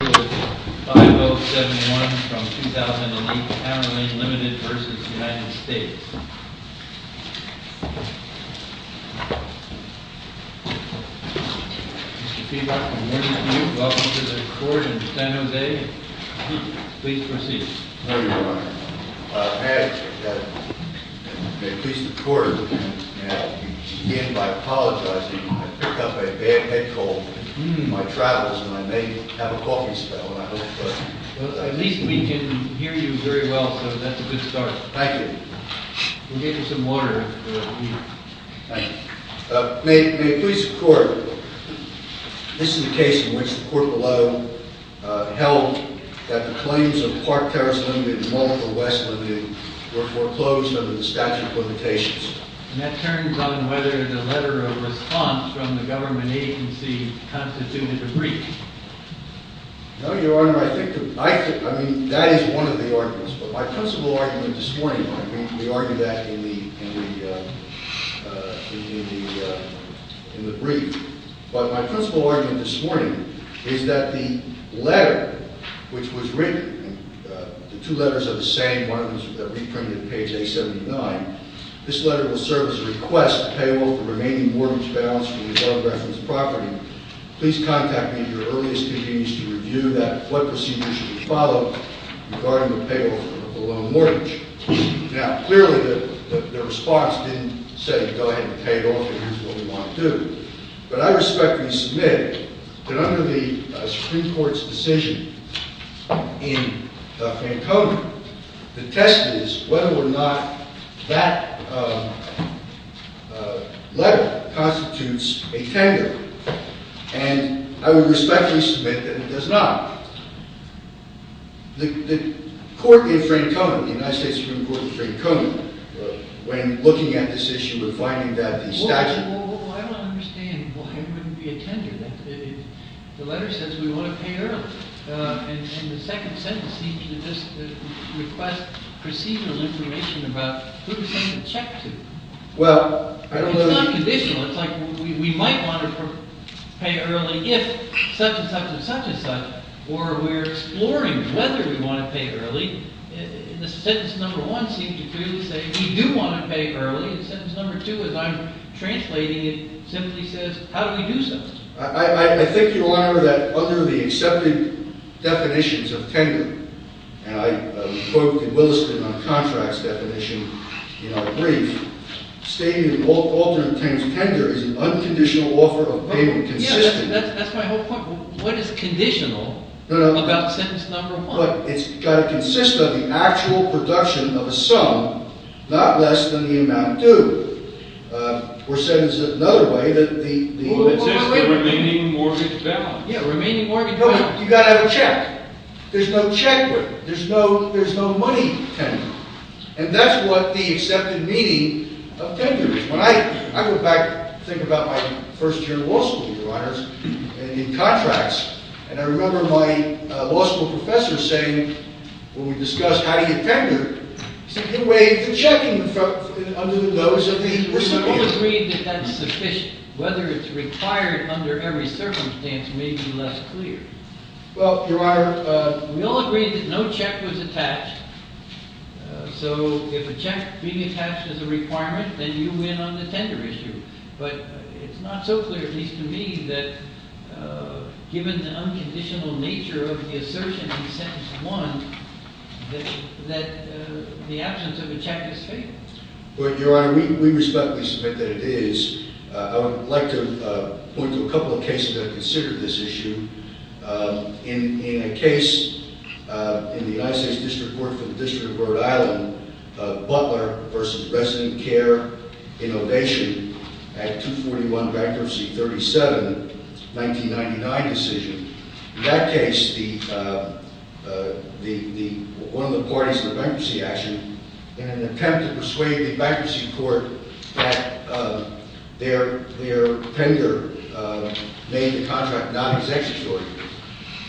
Mr. Peabody, good morning to you. Welcome to the court in San Jose. Please proceed. Good morning, Your Honor. May I, may it please the court, begin by apologizing. I've picked up a bad head cold in my travels, and I may have a coffee spell. At least we can hear you very well, so that's a good start. Thank you. We'll get you some water. Thank you. May it please the court, this is the case in which the court below held that the claims of Park Terrace Limited and Mullifer West Limited were foreclosed under the statute of limitations. And that turns on whether the letter of response from the government agency constituted a breach. No, Your Honor, I think the, I think, I mean, that is one of the arguments. But my principal argument this morning, I mean, we argue that in the, in the, in the brief. But my principal argument this morning is that the letter which was written, the two letters are the same, one of them is reprinted on page 879. This letter will serve as a request to pay off the remaining mortgage balance for the above referenced property. Please contact me at your earliest convenience to review that, what procedure should be followed regarding the pay off of the loan mortgage. Now, clearly the response didn't say go ahead and pay it off and do what we want to do. But I respectfully submit that under the Supreme Court's decision in Francona, the test is whether or not that letter constitutes a tender. And I would respectfully submit that it does not. The court in Francona, the United States Supreme Court in Francona, when looking at this issue and finding that the statute… Well, I don't understand why it wouldn't be a tender then. The letter says we want to pay early. And the second sentence seems to just request procedural information about who to send a check to. Well, I don't know… It's not conditional. It's like we might want to pay early if such and such and such and such. Or we're exploring whether we want to pay early. And the sentence number one seems to clearly say we do want to pay early. And sentence number two, as I'm translating it, simply says how do we do so? I think, Your Honor, that under the accepted definitions of tender, and I quote in Williston on contracts definition in our brief, stating in alternate terms, tender is an unconditional offer of payment, consistent… Yes, that's my whole point. What is conditional about sentence number one? But it's got to consist of the actual production of a sum, not less than the amount due. Or sentence is another way that the… Well, it says the remaining mortgage balance. Yeah, remaining mortgage balance. You've got to have a check. There's no check. There's no money tender. And that's what the accepted meaning of tender is. When I go back and think about my first year in law school, Your Honors, and in contracts, and I remember my law school professor saying, when we discussed how do you tender, it's a good way of checking under the nose of the recipient. We all agreed that that's sufficient. Whether it's required under every circumstance may be less clear. Well, Your Honor… We all agreed that no check was attached. So if a check being attached is a requirement, then you win on the tender issue. But it's not so clear, at least to me, that given the unconditional nature of the assertion in sentence one, that the absence of a check is fatal. Well, Your Honor, we respectfully submit that it is. I would like to point to a couple of cases that have considered this issue. In a case in the United States District Court for the District of Rhode Island, Butler v. Resident Care in Ovation at 241 bankruptcy 37, 1999 decision. In that case, one of the parties to the bankruptcy action, in an attempt to persuade the bankruptcy court that their tender made the contract non-executory,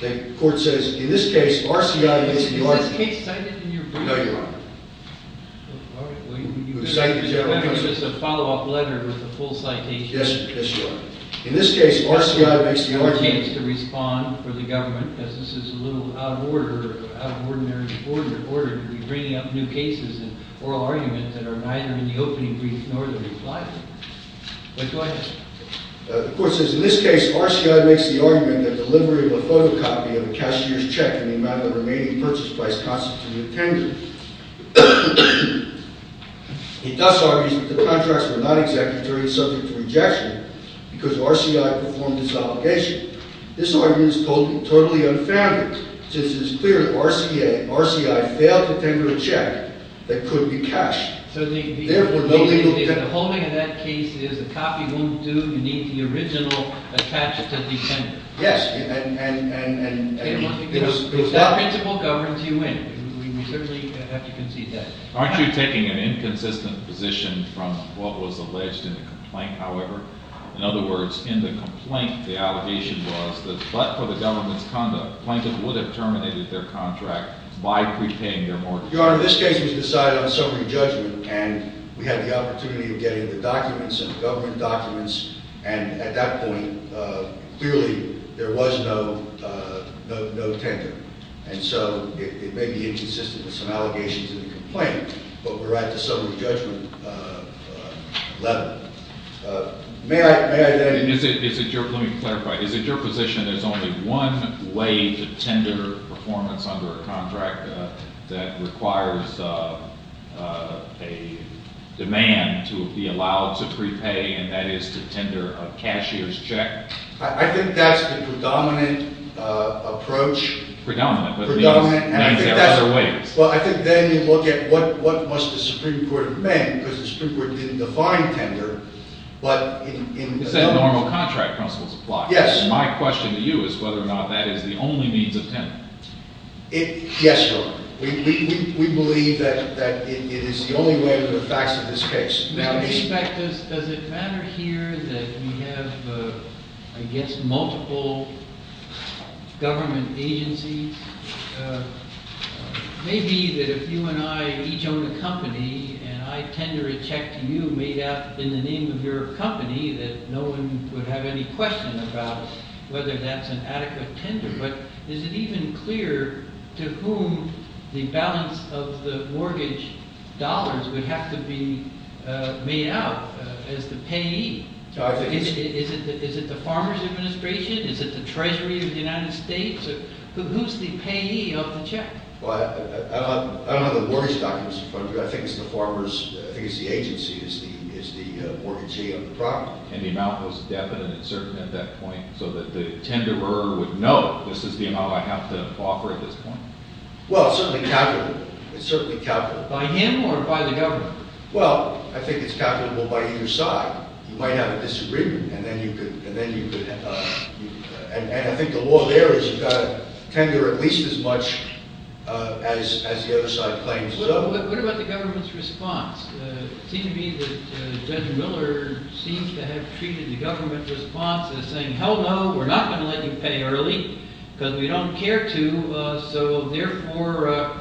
the court says, in this case, RCI… No, Your Honor. All right. You have just a follow-up letter with a full citation. Yes. Yes, Your Honor. In this case, RCI makes the argument… No chance to respond for the government, because this is a little out of order, out of ordinary order to be bringing up new cases and oral arguments that are neither in the opening brief nor the reply. Go ahead. The court says, in this case, RCI makes the argument that delivery of a photocopy of a cashier's check in the amount of the remaining purchase price constitutes a tender. It thus argues that the contracts were not executed during subject to rejection because RCI performed this obligation. This argument is totally unfounded, since it is clear that RCA, RCI, failed to tender a check that could be cashed. So the holding of that case is a copy wouldn't do. You need the original attachment to defend it. Yes. If that principle governs, you win. We certainly have to concede that. Aren't you taking an inconsistent position from what was alleged in the complaint, however? In other words, in the complaint, the allegation was that but for the government's conduct, plaintiff would have terminated their contract by pre-paying their mortgage. Your Honor, this case was decided on summary judgment, and we had the opportunity of getting the documents and the government documents, and at that point, clearly, there was no tender. And so it may be inconsistent with some allegations in the complaint, but we're at the summary judgment level. May I add anything? Let me clarify. Is it your position there's only one way to tender performance under a contract that requires a demand to be allowed to pre-pay, and that is to tender a cashier's check? I think that's the predominant approach. Predominant, but there are other ways. Well, I think then you look at what must the Supreme Court amend, because the Supreme Court didn't define tender, but in other ways. You said normal contract principles apply. Yes. My question to you is whether or not that is the only means of tender. Yes, Your Honor. We believe that it is the only way under the facts of this case. Does it matter here that we have, I guess, multiple government agencies? Maybe that if you and I each own a company and I tender a check to you made out in the name of your company that no one would have any question about whether that's an adequate tender, but is it even clear to whom the balance of the mortgage dollars would have to be made out as the payee? Is it the Farmers Administration? Is it the Treasury of the United States? Who's the payee of the check? I don't have the mortgage documents in front of me, but I think it's the agency, it's the mortgagee of the property. And the amount was definite and certain at that point, so that the tenderer would know this is the amount I have to offer at this point. Well, it's certainly calculable. It's certainly calculable. By him or by the government? Well, I think it's calculable by either side. You might have a disagreement, and then you could... And I think the law there is you've got to tender at least as much as the other side claims. What about the government's response? It seems to me that Judge Miller seems to have treated the government response as saying, hell no, we're not going to let you pay early because we don't care to, so therefore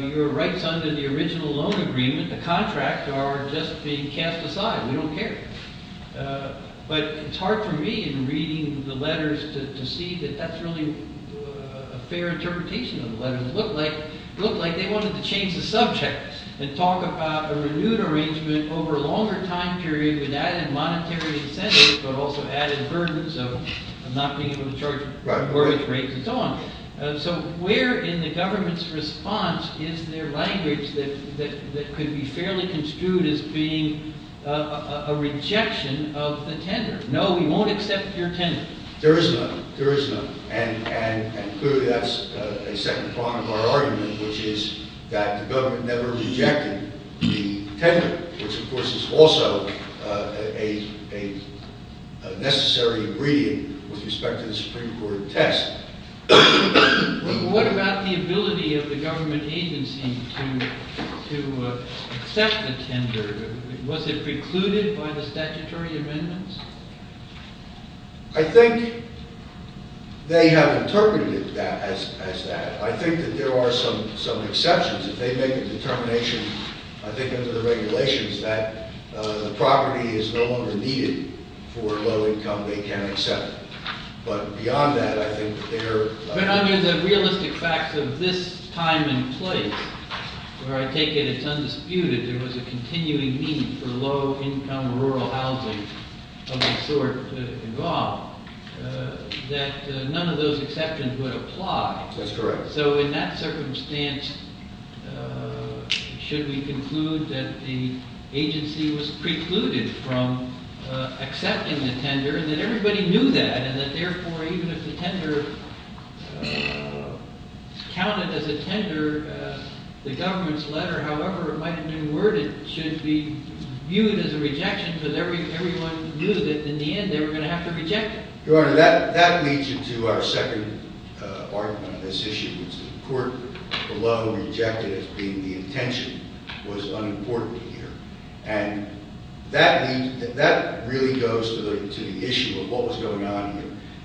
your rights under the original loan agreement, the contract, are just being cast aside. We don't care. But it's hard for me in reading the letters to see that that's really a fair interpretation of the letters. It looked like they wanted to change the subject and talk about a renewed arrangement over a longer time period with added monetary incentives but also added burdens of not being able to charge mortgage rates and so on. So where in the government's response is there language that could be fairly construed as being a rejection of the tender? No, we won't accept your tender. There is none. There is none. And clearly that's a second prong of our argument, which is that the government never rejected the tender, which of course is also a necessary reading with respect to the Supreme Court test. What about the ability of the government agency to accept the tender? Was it precluded by the statutory amendments? I think they have interpreted it as that. I think that there are some exceptions. If they make a determination, I think under the regulations, that the property is no longer needed for low-income, they can accept it. But beyond that, I think that they are... But under the realistic facts of this time and place, where I take it it's undisputed there was a continuing need for low-income rural housing of the sort involved, that none of those exceptions would apply. That's correct. So in that circumstance, should we conclude that the agency was precluded from accepting the tender, and that everybody knew that, and that therefore even if the tender counted as a tender, the government's letter, however it might have been worded, should be viewed as a rejection because everyone knew that in the end they were going to have to reject it. Your Honor, that leads you to our second argument on this issue, which the court below rejected as being the intention was unimportant here. And that really goes to the issue of what was going on here.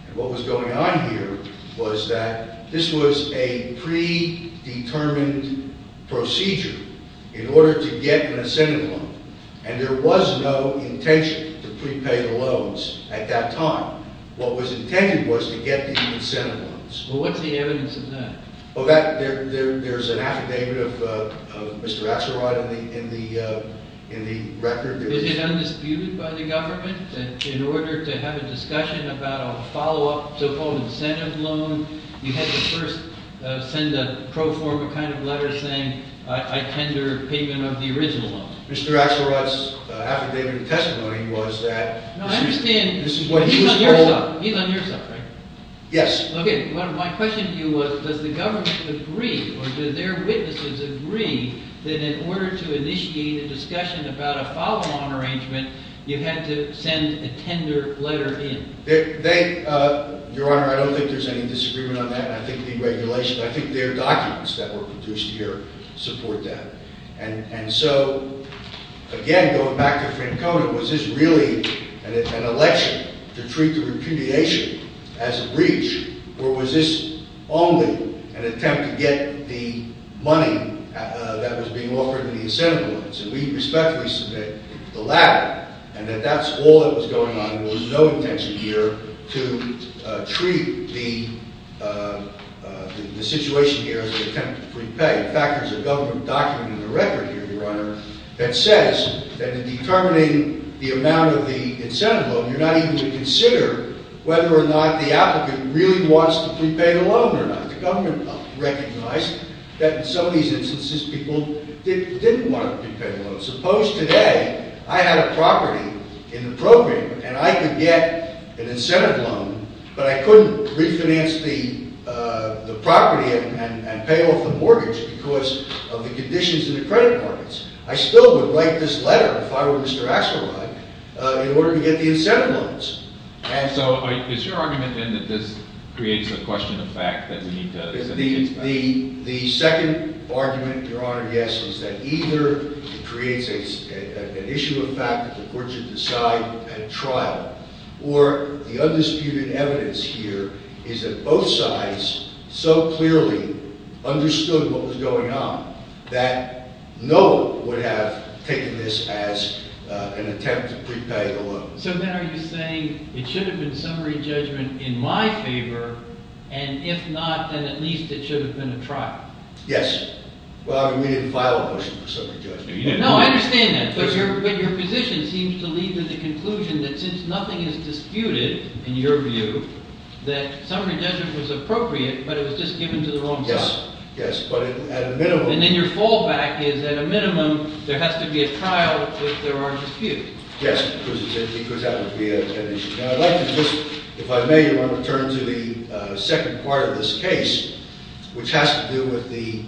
And what was going on here was that this was a predetermined procedure in order to get an ascended loan. And there was no intention to prepay the loans at that time. What was intended was to get the incentive loans. Well, what's the evidence of that? There's an affidavit of Mr. Axelrod in the record. Is it undisputed by the government that in order to have a discussion about a follow-up so-called incentive loan, you had to first send a pro forma kind of letter saying, I tender payment of the original loan? Mr. Axelrod's affidavit of testimony was that this is what he was told. No, I understand. He's on your side, right? Yes. Okay. My question to you was, does the government agree or do their witnesses agree that in order to initiate a discussion about a follow-on arrangement, you had to send a tender letter in? Your Honor, I don't think there's any disagreement on that. I think the regulations, I think their documents that were produced here support that. And so, again, going back to Francona, was this really an election to treat the repudiation as a breach or was this only an attempt to get the money that was being offered in the incentive loans? And we respectfully submit the latter and that that's all that was going on. There was no intention here to treat the situation here as an attempt to prepay. In fact, there's a government document in the record here, Your Honor, that says that in determining the amount of the incentive loan, you're not even going to consider whether or not the applicant really wants to prepay the loan or not. But the government recognized that in some of these instances, people didn't want to prepay the loan. Suppose today I had a property in the program and I could get an incentive loan, but I couldn't refinance the property and pay off the mortgage because of the conditions in the credit markets. I still would write this letter if I were Mr. Axelrod in order to get the incentive loans. And so is your argument then that this creates a question of fact that we need to— The second argument, Your Honor, yes, is that either it creates an issue of fact that the courts should decide at trial or the undisputed evidence here is that both sides so clearly understood what was going on that no one would have taken this as an attempt to prepay the loan. So then are you saying it should have been summary judgment in my favor, and if not, then at least it should have been a trial? Yes. Well, we didn't file a motion for summary judgment. No, I understand that, but your position seems to lead to the conclusion that since nothing is disputed, in your view, that summary judgment was appropriate, but it was just given to the wrong side. Yes, yes, but at a minimum— And then your fallback is at a minimum, there has to be a trial if there are disputes. Yes, because that would be an issue. Now, I'd like to just, if I may, Your Honor, turn to the second part of this case, which has to do with the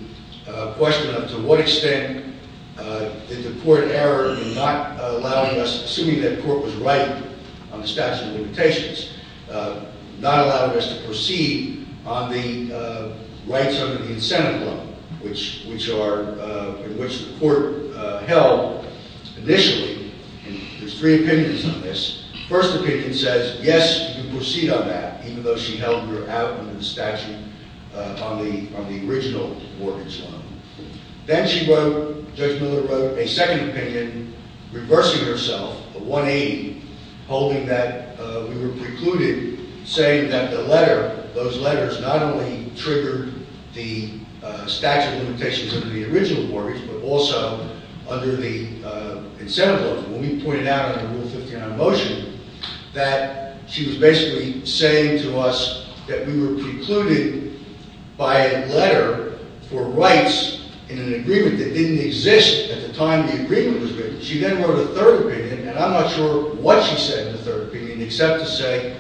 question of to what extent did the court err in not allowing us, assuming that court was right on the statute of limitations, not allowing us to proceed on the rights under the incentive loan, in which the court held initially, there's three opinions on this. The first opinion says, yes, you can proceed on that, even though she held you're out under the statute on the original mortgage loan. Then Judge Miller wrote a second opinion reversing herself, the 1A, holding that we were precluded, saying that the letter, those letters not only triggered the statute of limitations under the original mortgage, but also under the incentive loan. When we pointed out under Rule 59 of motion that she was basically saying to us that we were precluded by a letter for rights in an agreement that didn't exist at the time the agreement was written. She then wrote a third opinion, and I'm not sure what she said in the third opinion, except to say,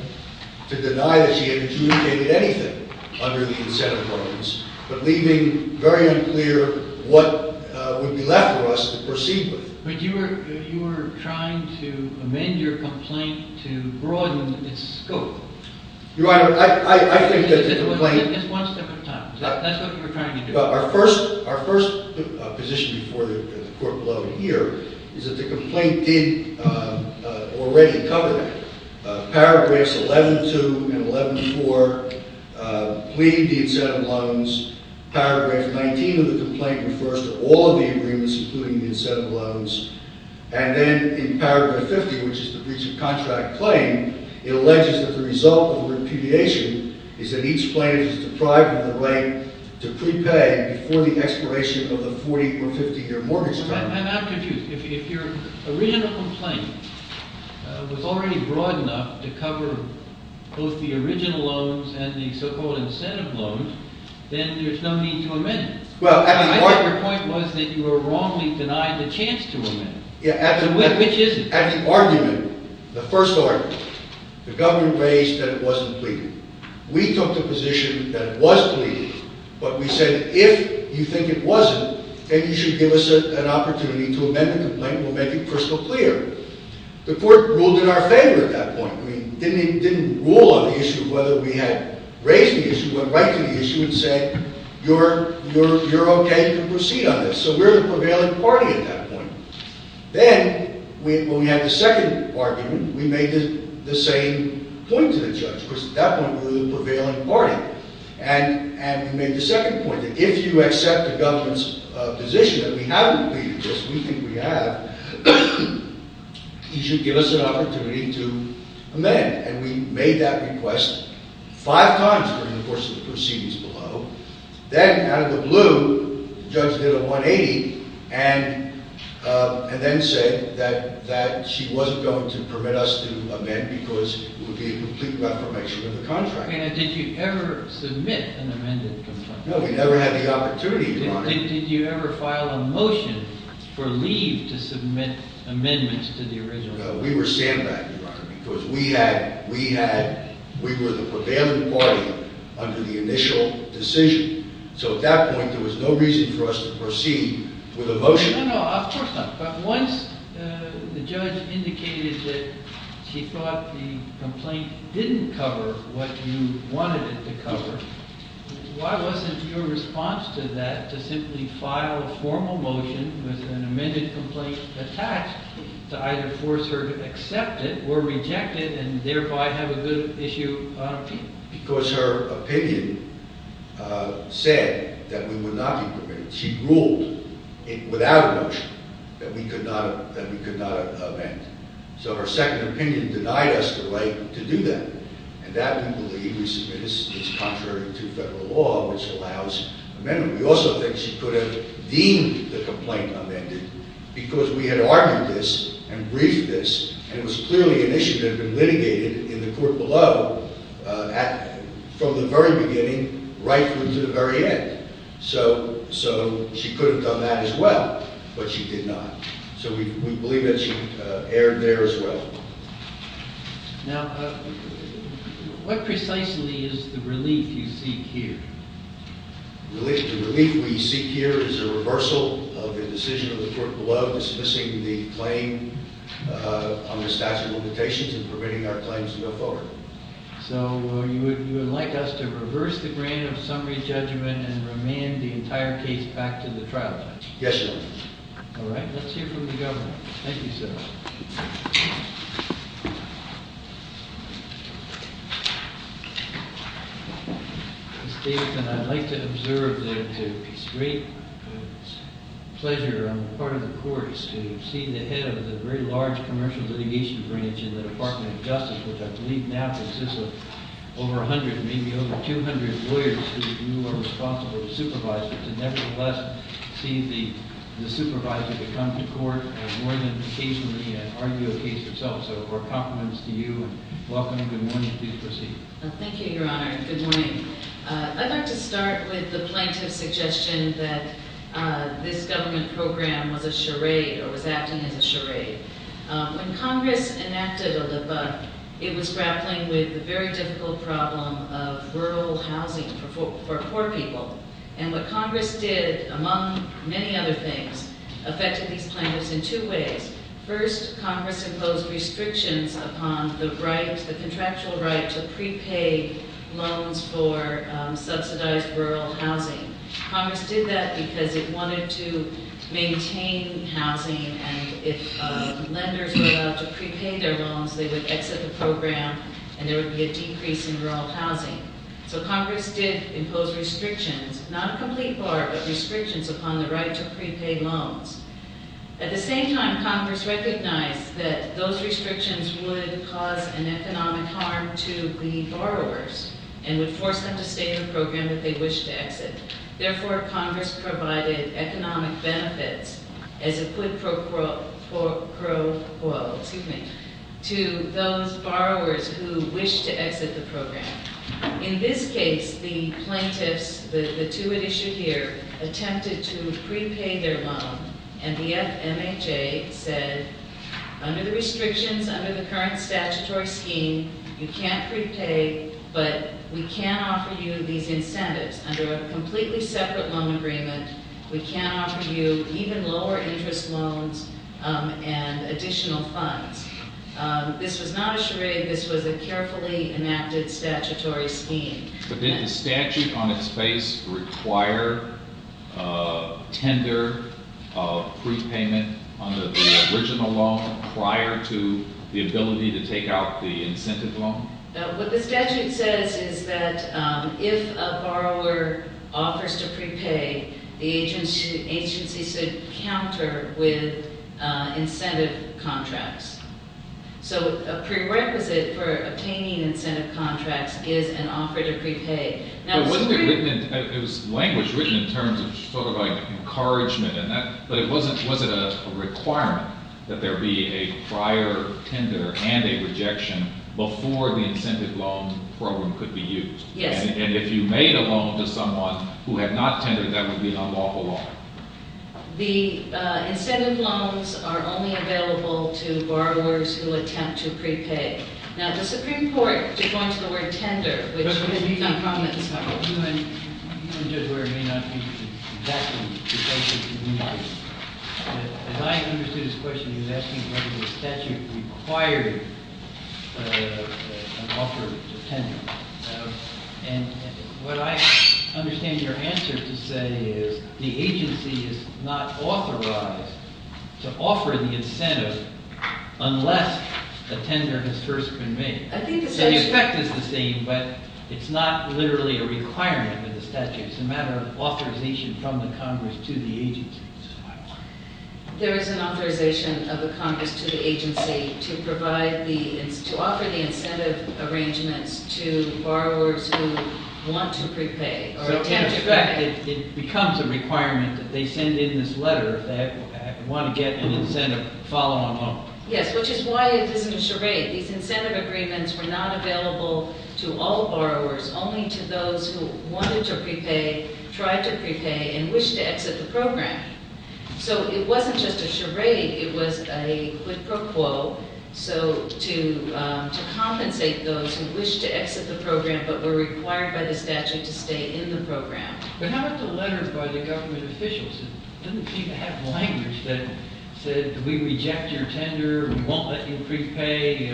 to deny that she had communicated anything under the incentive loans, but leaving very unclear what would be left for us to proceed with. But you were trying to amend your complaint to broaden its scope. Your Honor, I think that the complaint... Just one step at a time. That's what you were trying to do. Our first position before the court below here is that the complaint did already cover that. Paragraphs 11.2 and 11.4 plead the incentive loans. Paragraph 19 of the complaint refers to all of the agreements, including the incentive loans. And then in paragraph 50, which is the breach of contract claim, it alleges that the result of repudiation is that each claim is deprived of the right to prepay before the expiration of the 40 or 50-year mortgage term. I'm not confused. If your original complaint was already broad enough to cover both the original loans and the so-called incentive loans, then there's no need to amend it. I think your point was that you were wrongly denied the chance to amend it. Which isn't? At the argument, the first argument, the governor raised that it wasn't pleading. We took the position that it was pleading, but we said, if you think it wasn't, then you should give us an opportunity to amend the complaint. We'll make it crystal clear. The court ruled in our favor at that point. It didn't rule on the issue of whether we had raised the issue. It went right to the issue and said, you're okay to proceed on this. So we're the prevailing party at that point. Then, when we had the second argument, we made the same point to the judge. Of course, at that point, we were the prevailing party. We made the second point that if you accept the government's position that we haven't pleaded this, we think we have, you should give us an opportunity to amend. We made that request five times during the course of the proceedings below. Then, out of the blue, the judge did a 180 and then said that she wasn't going to permit us to amend because it would be a complete reformation of the contract. Did you ever submit an amended complaint? No, we never had the opportunity, Your Honor. Did you ever file a motion for leave to submit amendments to the original? No, we were sandbagged, Your Honor, because we were the prevailing party under the initial decision. So at that point, there was no reason for us to proceed with a motion. No, no, of course not. But once the judge indicated that she thought the complaint didn't cover what you wanted it to cover, why wasn't your response to that to simply file a formal motion with an amended complaint attached to either force her to accept it or reject it and thereby have a good issue on appeal? Because her opinion said that we would not be permitted. She ruled without a motion that we could not amend. So her second opinion denied us the right to do that. And that, we believe, is contrary to federal law, which allows amendment. We also think she could have deemed the complaint amended because we had argued this and briefed this and it was clearly an issue that had been litigated in the court below from the very beginning right through to the very end. So she could have done that as well, but she did not. So we believe that she erred there as well. Now, what precisely is the relief you seek here? The relief we seek here is a reversal of the decision of the court below dismissing the claim on the statute of limitations and permitting our claims to go forward. So you would like us to reverse the grant of summary judgment and remand the entire case back to the trial judge? Yes, sir. All right. Let's hear from the governor. Thank you, sir. Ms. Davidson, I'd like to observe that it's a great pleasure on the part of the court to see the head of the very large commercial litigation branch in the Department of Justice, which I believe now consists of over 100, maybe over 200 lawyers who you are responsible to supervise, but to nevertheless see the supervisor come to court more than occasionally and argue a case yourself. So our compliments to you and welcome. Good morning. Please proceed. Thank you, Your Honor. Good morning. I'd like to start with the plaintiff's suggestion that this government program was a charade or was acting as a charade. When Congress enacted a lebut, it was grappling with the very difficult problem of rural housing for poor people. And what Congress did, among many other things, affected these plaintiffs in two ways. First, Congress imposed restrictions upon the contractual right to prepay loans for subsidized rural housing. Congress did that because it wanted to maintain housing and if lenders were allowed to prepay their loans, they would exit the program and there would be a decrease in rural housing. So Congress did impose restrictions, not a complete bar, but restrictions upon the right to prepay loans. At the same time, Congress recognized that those restrictions would cause an economic harm to the borrowers and would force them to stay in the program if they wished to exit. Therefore, Congress provided economic benefits as a quid pro quo to those borrowers who wished to exit the program. In this case, the plaintiffs, the two at issue here, attempted to prepay their loan and the FMHA said, under the restrictions, under the current statutory scheme, you can't prepay, but we can offer you these incentives. Under a completely separate loan agreement, we can offer you even lower interest loans and additional funds. This was not a charade. This was a carefully enacted statutory scheme. But did the statute on its face require tender prepayment under the original loan prior to the ability to take out the incentive loan? What the statute says is that if a borrower offers to prepay, the agency should counter with incentive contracts. So a prerequisite for obtaining incentive contracts is an offer to prepay. It was language written in terms of sort of like encouragement, but was it a requirement that there be a prior tender and a rejection before the incentive loan program could be used? Yes. And if you made a loan to someone who had not tendered, that would be an unlawful loan. The incentive loans are only available to borrowers who attempt to prepay. Now, the Supreme Court did go into the word tender, which has been done prominently in this case. I hope you and Judge Ware may not be exactly the same community. As I understood this question, he was asking whether the statute required an offer to tender. And what I understand your answer to say is the agency is not authorized to offer the incentive unless a tender has first been made. So the effect is the same, but it's not literally a requirement in the statute. It's a matter of authorization from the Congress to the agency. There is an authorization of the Congress to the agency to offer the incentive arrangements to borrowers who want to prepay. In effect, it becomes a requirement that they send in this letter that they want to get an incentive follow-on loan. Yes, which is why it isn't a charade. These incentive agreements were not available to all borrowers, only to those who wanted to prepay, tried to prepay, and wished to exit the program. So it wasn't just a charade. It was a quid pro quo, so to compensate those who wished to exit the program but were required by the statute to stay in the program. But how about the letter by the government officials? It doesn't seem to have language that said, we reject your tender, we won't let you prepay,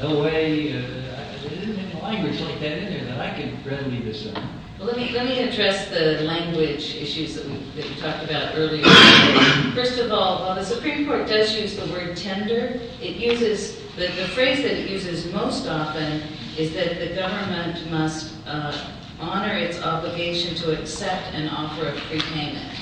no way. There isn't any language like that in there that I can readily discern. Let me address the language issues that you talked about earlier. First of all, while the Supreme Court does use the word tender, the phrase that it uses most often is that the government must honor its obligation to accept an offer of prepayment.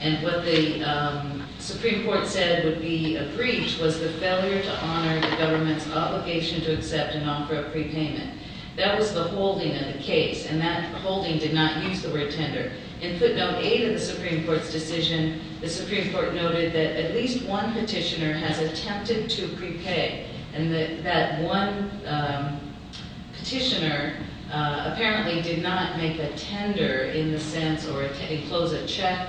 And what the Supreme Court said would be a breach was the failure to honor the government's obligation to accept an offer of prepayment. That was the holding of the case, and that holding did not use the word tender. In footnote 8 of the Supreme Court's decision, the Supreme Court noted that at least one petitioner has attempted to prepay, and that that one petitioner apparently did not make a tender in the sense or close a check,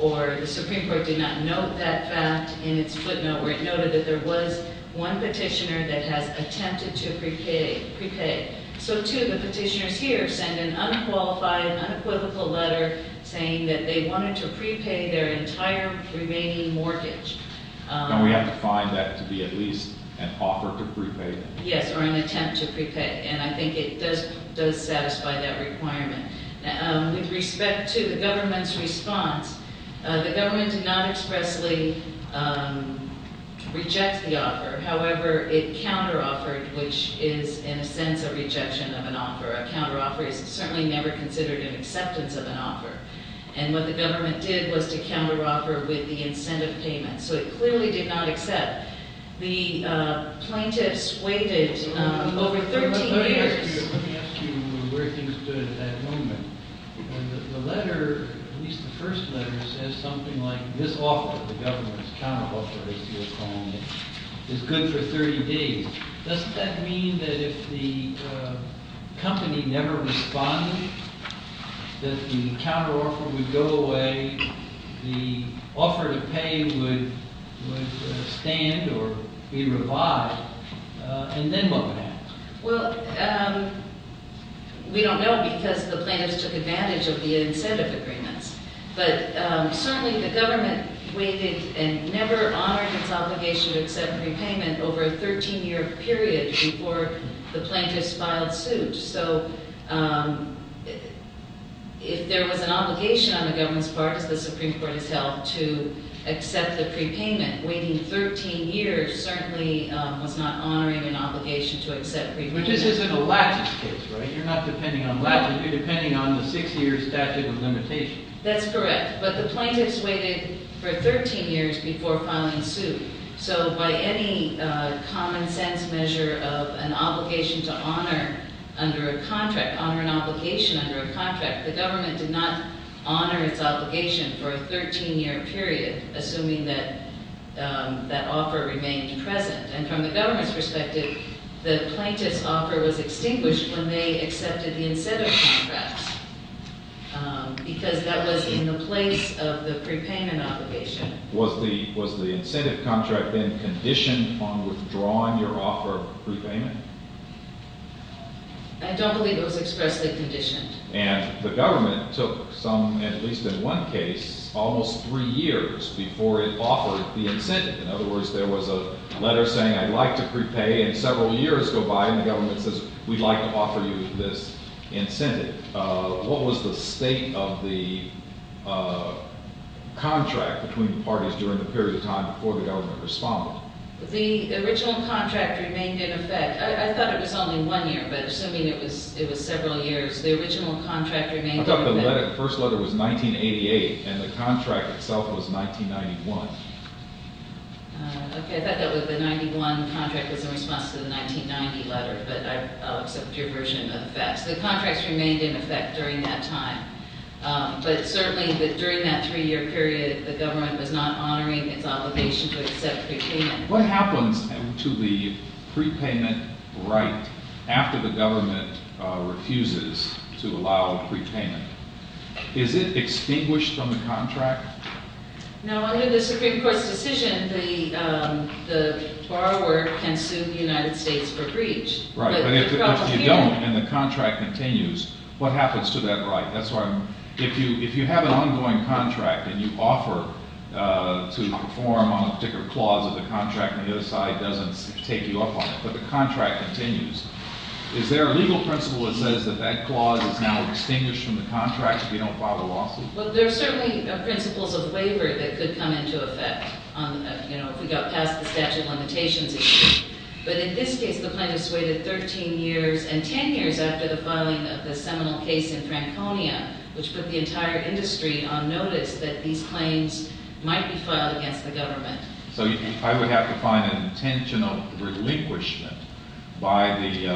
or the Supreme Court did not note that fact in its footnote where it noted that there was one petitioner that has attempted to prepay. So two of the petitioners here send an unqualified, unequivocal letter saying that they wanted to prepay their entire remaining mortgage. And we have to find that to be at least an offer to prepay. Yes, or an attempt to prepay, and I think it does satisfy that requirement. With respect to the government's response, the government did not expressly reject the offer. However, it counteroffered, which is, in a sense, a rejection of an offer. A counteroffer is certainly never considered an acceptance of an offer. And what the government did was to counteroffer with the incentive payment. So it clearly did not accept. The plaintiffs waited over 13 years. Let me ask you where things stood at that moment. The letter, at least the first letter, says something like, this offer, the government's counteroffer, as you're calling it, is good for 30 days. Doesn't that mean that if the company never responded, that the counteroffer would go away, the offer to pay would stand or be revived? And then what would happen? Well, we don't know because the plaintiffs took advantage of the incentive agreements. But certainly the government waited and never honored its obligation to accept a repayment over a 13-year period before the plaintiffs filed suit. So if there was an obligation on the government's part, as the Supreme Court has held, to accept the prepayment, waiting 13 years certainly was not honoring an obligation to accept prepayment. But this isn't a lattice case, right? You're not depending on lattice. You're depending on the six-year statute of limitations. That's correct. But the plaintiffs waited for 13 years before filing suit. So by any common-sense measure of an obligation to honor under a contract, honor an obligation under a contract, the government did not honor its obligation for a 13-year period, assuming that that offer remained present. And from the government's perspective, the plaintiff's offer was extinguished when they accepted the incentive contracts because that was in the place of the prepayment obligation. Was the incentive contract then conditioned on withdrawing your offer of prepayment? I don't believe it was expressly conditioned. And the government took some, at least in one case, almost three years before it offered the incentive. In other words, there was a letter saying, I'd like to prepay, and several years go by, and the government says, We'd like to offer you this incentive. What was the state of the contract between the parties during the period of time before the government responded? The original contract remained in effect. I thought it was only one year, but assuming it was several years, the original contract remained in effect. I thought the first letter was 1988, and the contract itself was 1991. Okay. I thought that the 91 contract was in response to the 1990 letter, but I'll accept your version of the facts. The contracts remained in effect during that time. But certainly during that three-year period, the government was not honoring its obligation to accept prepayment. What happens to the prepayment right after the government refuses to allow prepayment? Is it extinguished from the contract? No, under the Supreme Court's decision, the borrower can sue the United States for breach. Right, but if you don't and the contract continues, what happens to that right? If you have an ongoing contract and you offer to perform on a particular clause of the contract and the other side doesn't take you up on it, but the contract continues, is there a legal principle that says that that clause is now extinguished from the contract if you don't file a lawsuit? Well, there are certainly principles of waiver that could come into effect if we got past the statute of limitations issue. But in this case, the plaintiffs waited 13 years and 10 years after the filing of the seminal case in Franconia, which put the entire industry on notice that these claims might be filed against the government. So I would have to find an intentional relinquishment by the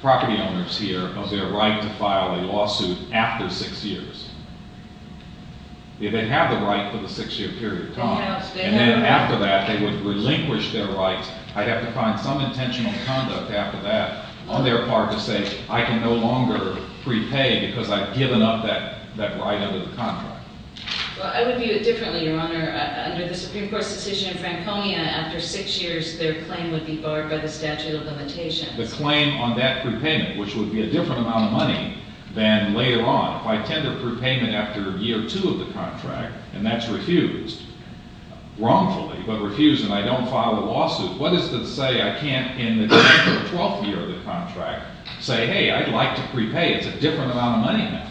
property owners here of their right to file a lawsuit after six years. They have the right for the six-year period, Tom. And then after that, they would relinquish their rights. I'd have to find some intentional conduct after that on their part to say I can no longer prepay because I've given up that right under the contract. Well, I would view it differently, Your Honor. Under the Supreme Court's decision in Franconia, after six years, their claim would be barred by the statute of limitations. The claim on that prepayment, which would be a different amount of money than later on. If I tender prepayment after year two of the contract and that's refused, wrongfully, but refused and I don't file a lawsuit, what is to say I can't in the tenth or twelfth year of the contract say, hey, I'd like to prepay. It's a different amount of money now.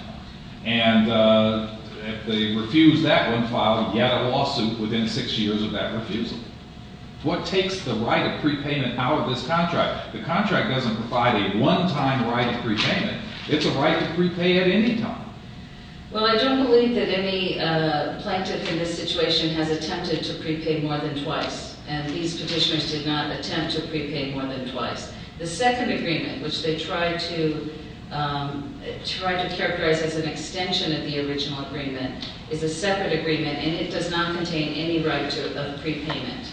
And if they refuse that one filing, yet a lawsuit within six years of that refusal. What takes the right of prepayment out of this contract? The contract doesn't provide a one-time right of prepayment. It's a right to prepay at any time. Well, I don't believe that any plaintiff in this situation has attempted to prepay more than twice, and these petitioners did not attempt to prepay more than twice. The second agreement, which they tried to characterize as an extension of the original agreement, is a separate agreement, and it does not contain any right of prepayment.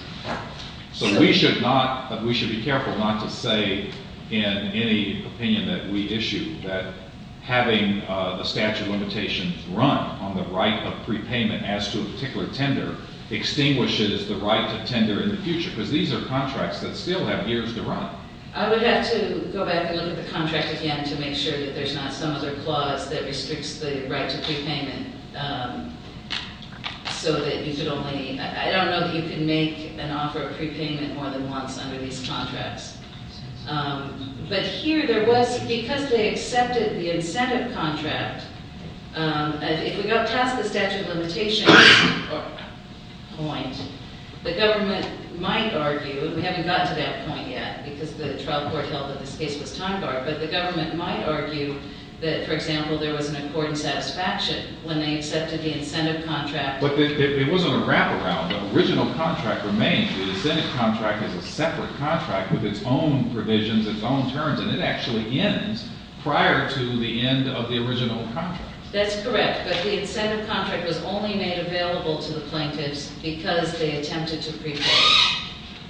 So we should be careful not to say in any opinion that we issue that having the statute of limitations run on the right of prepayment as to a particular tender extinguishes the right to tender in the future, because these are contracts that still have years to run. I would have to go back and look at the contract again to make sure that there's not some other clause that restricts the right to prepayment so that you could only... I don't know that you can make an offer of prepayment more than once under these contracts. But here there was... Because they accepted the incentive contract, if we got past the statute of limitations point, the government might argue... We haven't gotten to that point yet, because the trial court held that this case was time-barred, but the government might argue that, for example, there was an accord in satisfaction when they accepted the incentive contract. But it wasn't a wraparound. The original contract remains. The incentive contract is a separate contract with its own provisions, its own terms, and it actually ends prior to the end of the original contract. That's correct, but the incentive contract was only made available to the plaintiffs because they attempted to prepay,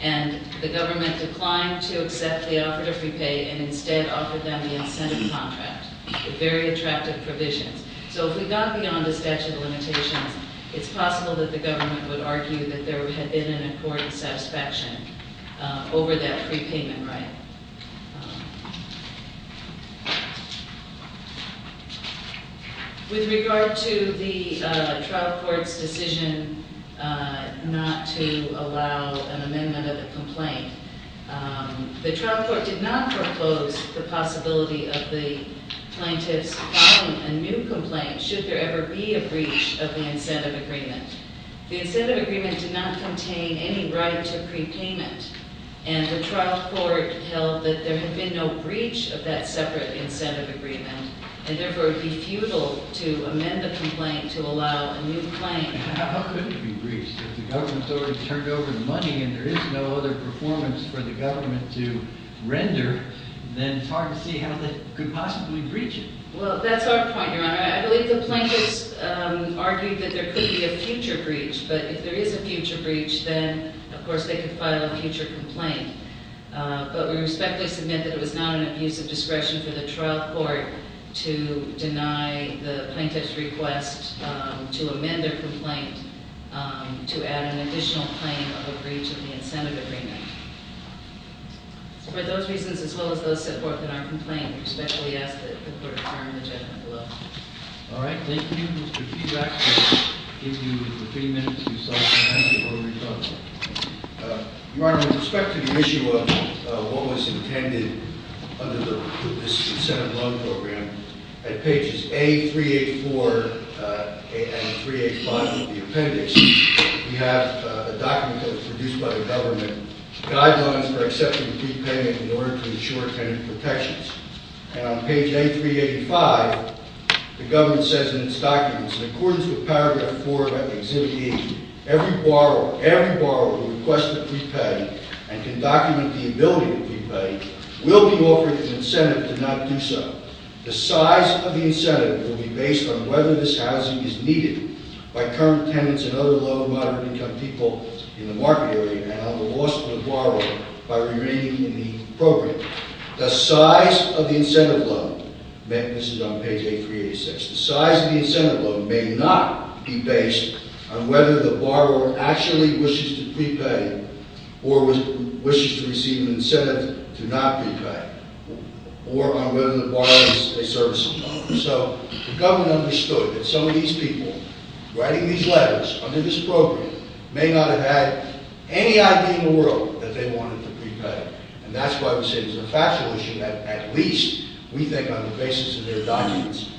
and the government declined to accept the offer to prepay and instead offered them the incentive contract with very attractive provisions. So if we got beyond the statute of limitations, it's possible that the government would argue that there had been an accord in satisfaction over that prepayment right. With regard to the trial court's decision not to allow an amendment of the complaint, the trial court did not propose the possibility of the plaintiffs filing a new complaint should there ever be a breach of the incentive agreement. The incentive agreement did not contain any right to prepayment, and the trial court held that there had been no breach of that separate incentive agreement and therefore it would be futile to amend the complaint to allow a new claim. How could it be breached? If the government's already turned over the money and there is no other performance for the government to render, then it's hard to see how they could possibly breach it. Well, that's our point, Your Honor. I believe the plaintiffs argued that there could be a future breach. But if there is a future breach, then, of course, they could file a future complaint. But we respectfully submit that it was not an abuse of discretion for the trial court to deny the plaintiff's request to amend their complaint to add an additional claim of a breach of the incentive agreement. For those reasons, as well as those that support that our complaint, we respectfully ask that the court affirm the judgment below. All right. Thank you, Mr. Chief Justice. I'll give you the three minutes you sought to ask before we talk. Your Honor, with respect to the issue of what was intended under this incentive loan program, at pages A384 and 385 of the appendix, we have a document that was produced by the government, guidelines for accepting a fee payment in order to ensure tenant protections. And on page A385, the government says in its documents, in accordance with paragraph 4 of Act of Exhibit A, every borrower who requests that we pay and can document the ability to repay will be offered an incentive to not do so. The size of the incentive will be based on whether this housing is needed by current tenants and other low and moderate income people in the market area and on the loss of the borrower by remaining in the program. The size of the incentive loan, this is on page A386, the size of the incentive loan may not be based on whether the borrower actually wishes to repay or wishes to receive an incentive to not repay or on whether the borrower is a servicing owner. So the government understood that some of these people writing these letters under this program may not have had any idea in the world that they wanted to repay. And that's why we say it's a factual issue that at least we think on the basis of their documents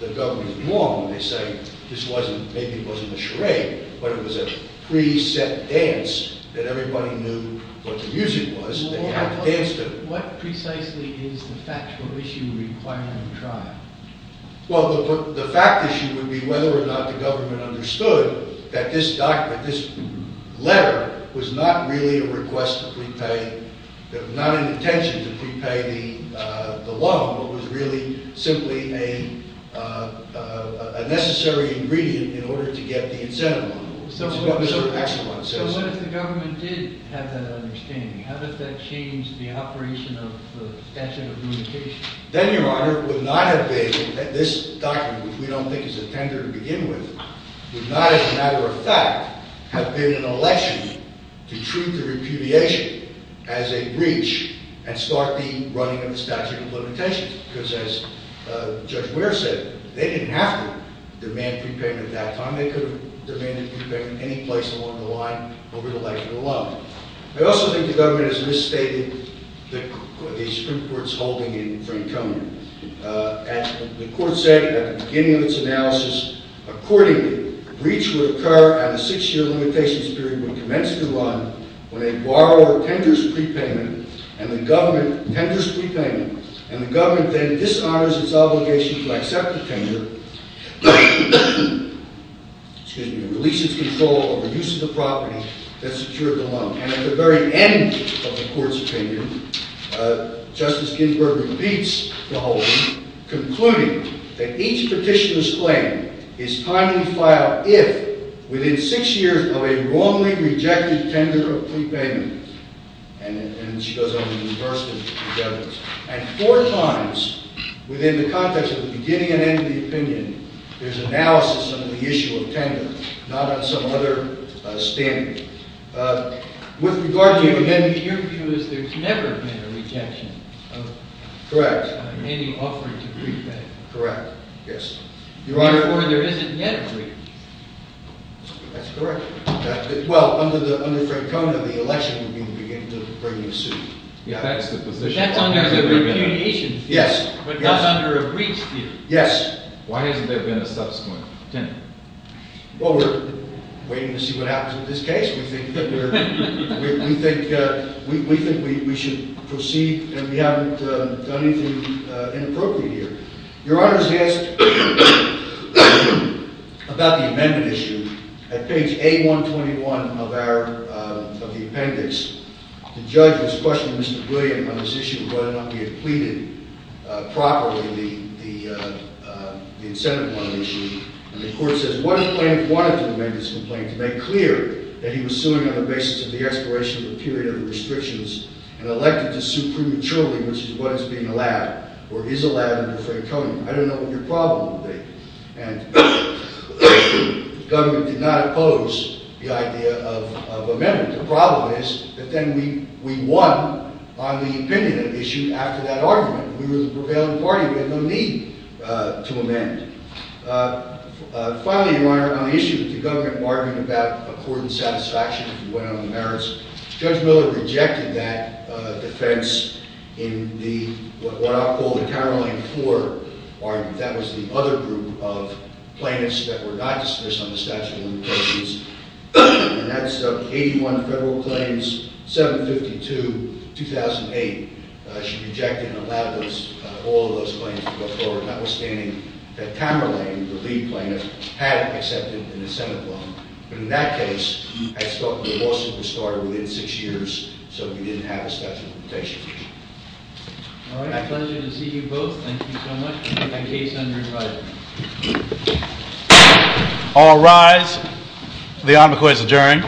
the government is wrong when they say this wasn't, maybe it wasn't a charade, but it was a pre-set dance that everybody knew what the music was and they had to dance to it. What precisely is the factual issue requiring a trial? Well, the fact issue would be whether or not the government understood that this document, Your Honor, was not really a request to repay, not an intention to repay the loan, but was really simply a necessary ingredient in order to get the incentive loan, which is what Mr. Paxman says. So what if the government did have that understanding? How does that change the operation of the statute of limitations? Then, Your Honor, it would not have been that this document, which we don't think is a tender to begin with, would not as a matter of fact have been an election to treat the repudiation as a breach and start the running of the statute of limitations. Because as Judge Ware said, they didn't have to demand prepayment at that time. They could have demanded prepayment any place along the line, over the length of the loan. I also think the government has misstated the Supreme Court's holding in Frank Conant. The Court said at the beginning of its analysis, accordingly, a breach would occur at a six-year limitations period when it commenced to run, when a borrower tenders prepayment, and the government tenders prepayment, and the government then dishonors its obligation to accept the tender, to release its control over the use of the property that secured the loan. And at the very end of the Court's opinion, Justice Ginsburg repeats the holding, concluding that each petitioner's claim is timely filed if, within six years of a wrongly rejected tender of prepayment, and then she goes on to reverse the evidence, and four times within the context of the beginning and end of the opinion, there's analysis of the issue of tender, not on some other standard. With regard to your opinion... Your view is there's never been a rejection of... Correct. ...any offering to prepayment. Correct, yes. Therefore, there isn't yet a breach. That's correct. Well, under Francona, the election would be beginning to bring you a suit. Yeah, that's the position. But that's under a repudiation suit... Yes, yes. ...but not under a breach suit. Yes. Why hasn't there been a subsequent tender? Well, we're waiting to see what happens with this case. We think that we're... We think we should proceed, and we haven't done anything inappropriate here. Your Honor, he asked about the amendment issue at page A121 of the appendix. The judge was questioning Mr. Brilliant on this issue of whether or not we had pleaded properly the incentive money issue, and the court says, what if Blank wanted to amend his complaint to make clear that he was suing on the basis of the expiration of a period of restrictions and elected to sue prematurely, which is what is being allowed, or is allowed under Franconian. I don't know what your problem would be. And the government did not oppose the idea of amendment. The problem is that then we won on the opinion issue after that argument. We were the prevailing party. We had no need to amend. Finally, Your Honor, on the issue of the government argument about accord and satisfaction, if you went on the merits, Judge Miller rejected that defense in what I'll call the Tamerlane IV argument. That was the other group of plaintiffs that were not dismissed on the statute of limitations, and that's 81 Federal Claims, 752, 2008. She rejected and allowed all of those claims to go forward, notwithstanding that Tamerlane, the lead plaintiff, had accepted an incentive loan. But in that case, the lawsuit was started within six years, so we didn't have a statute of limitations. All right. Pleasure to see you both. Thank you so much. Case under review. All rise. The Envoy is adjourned.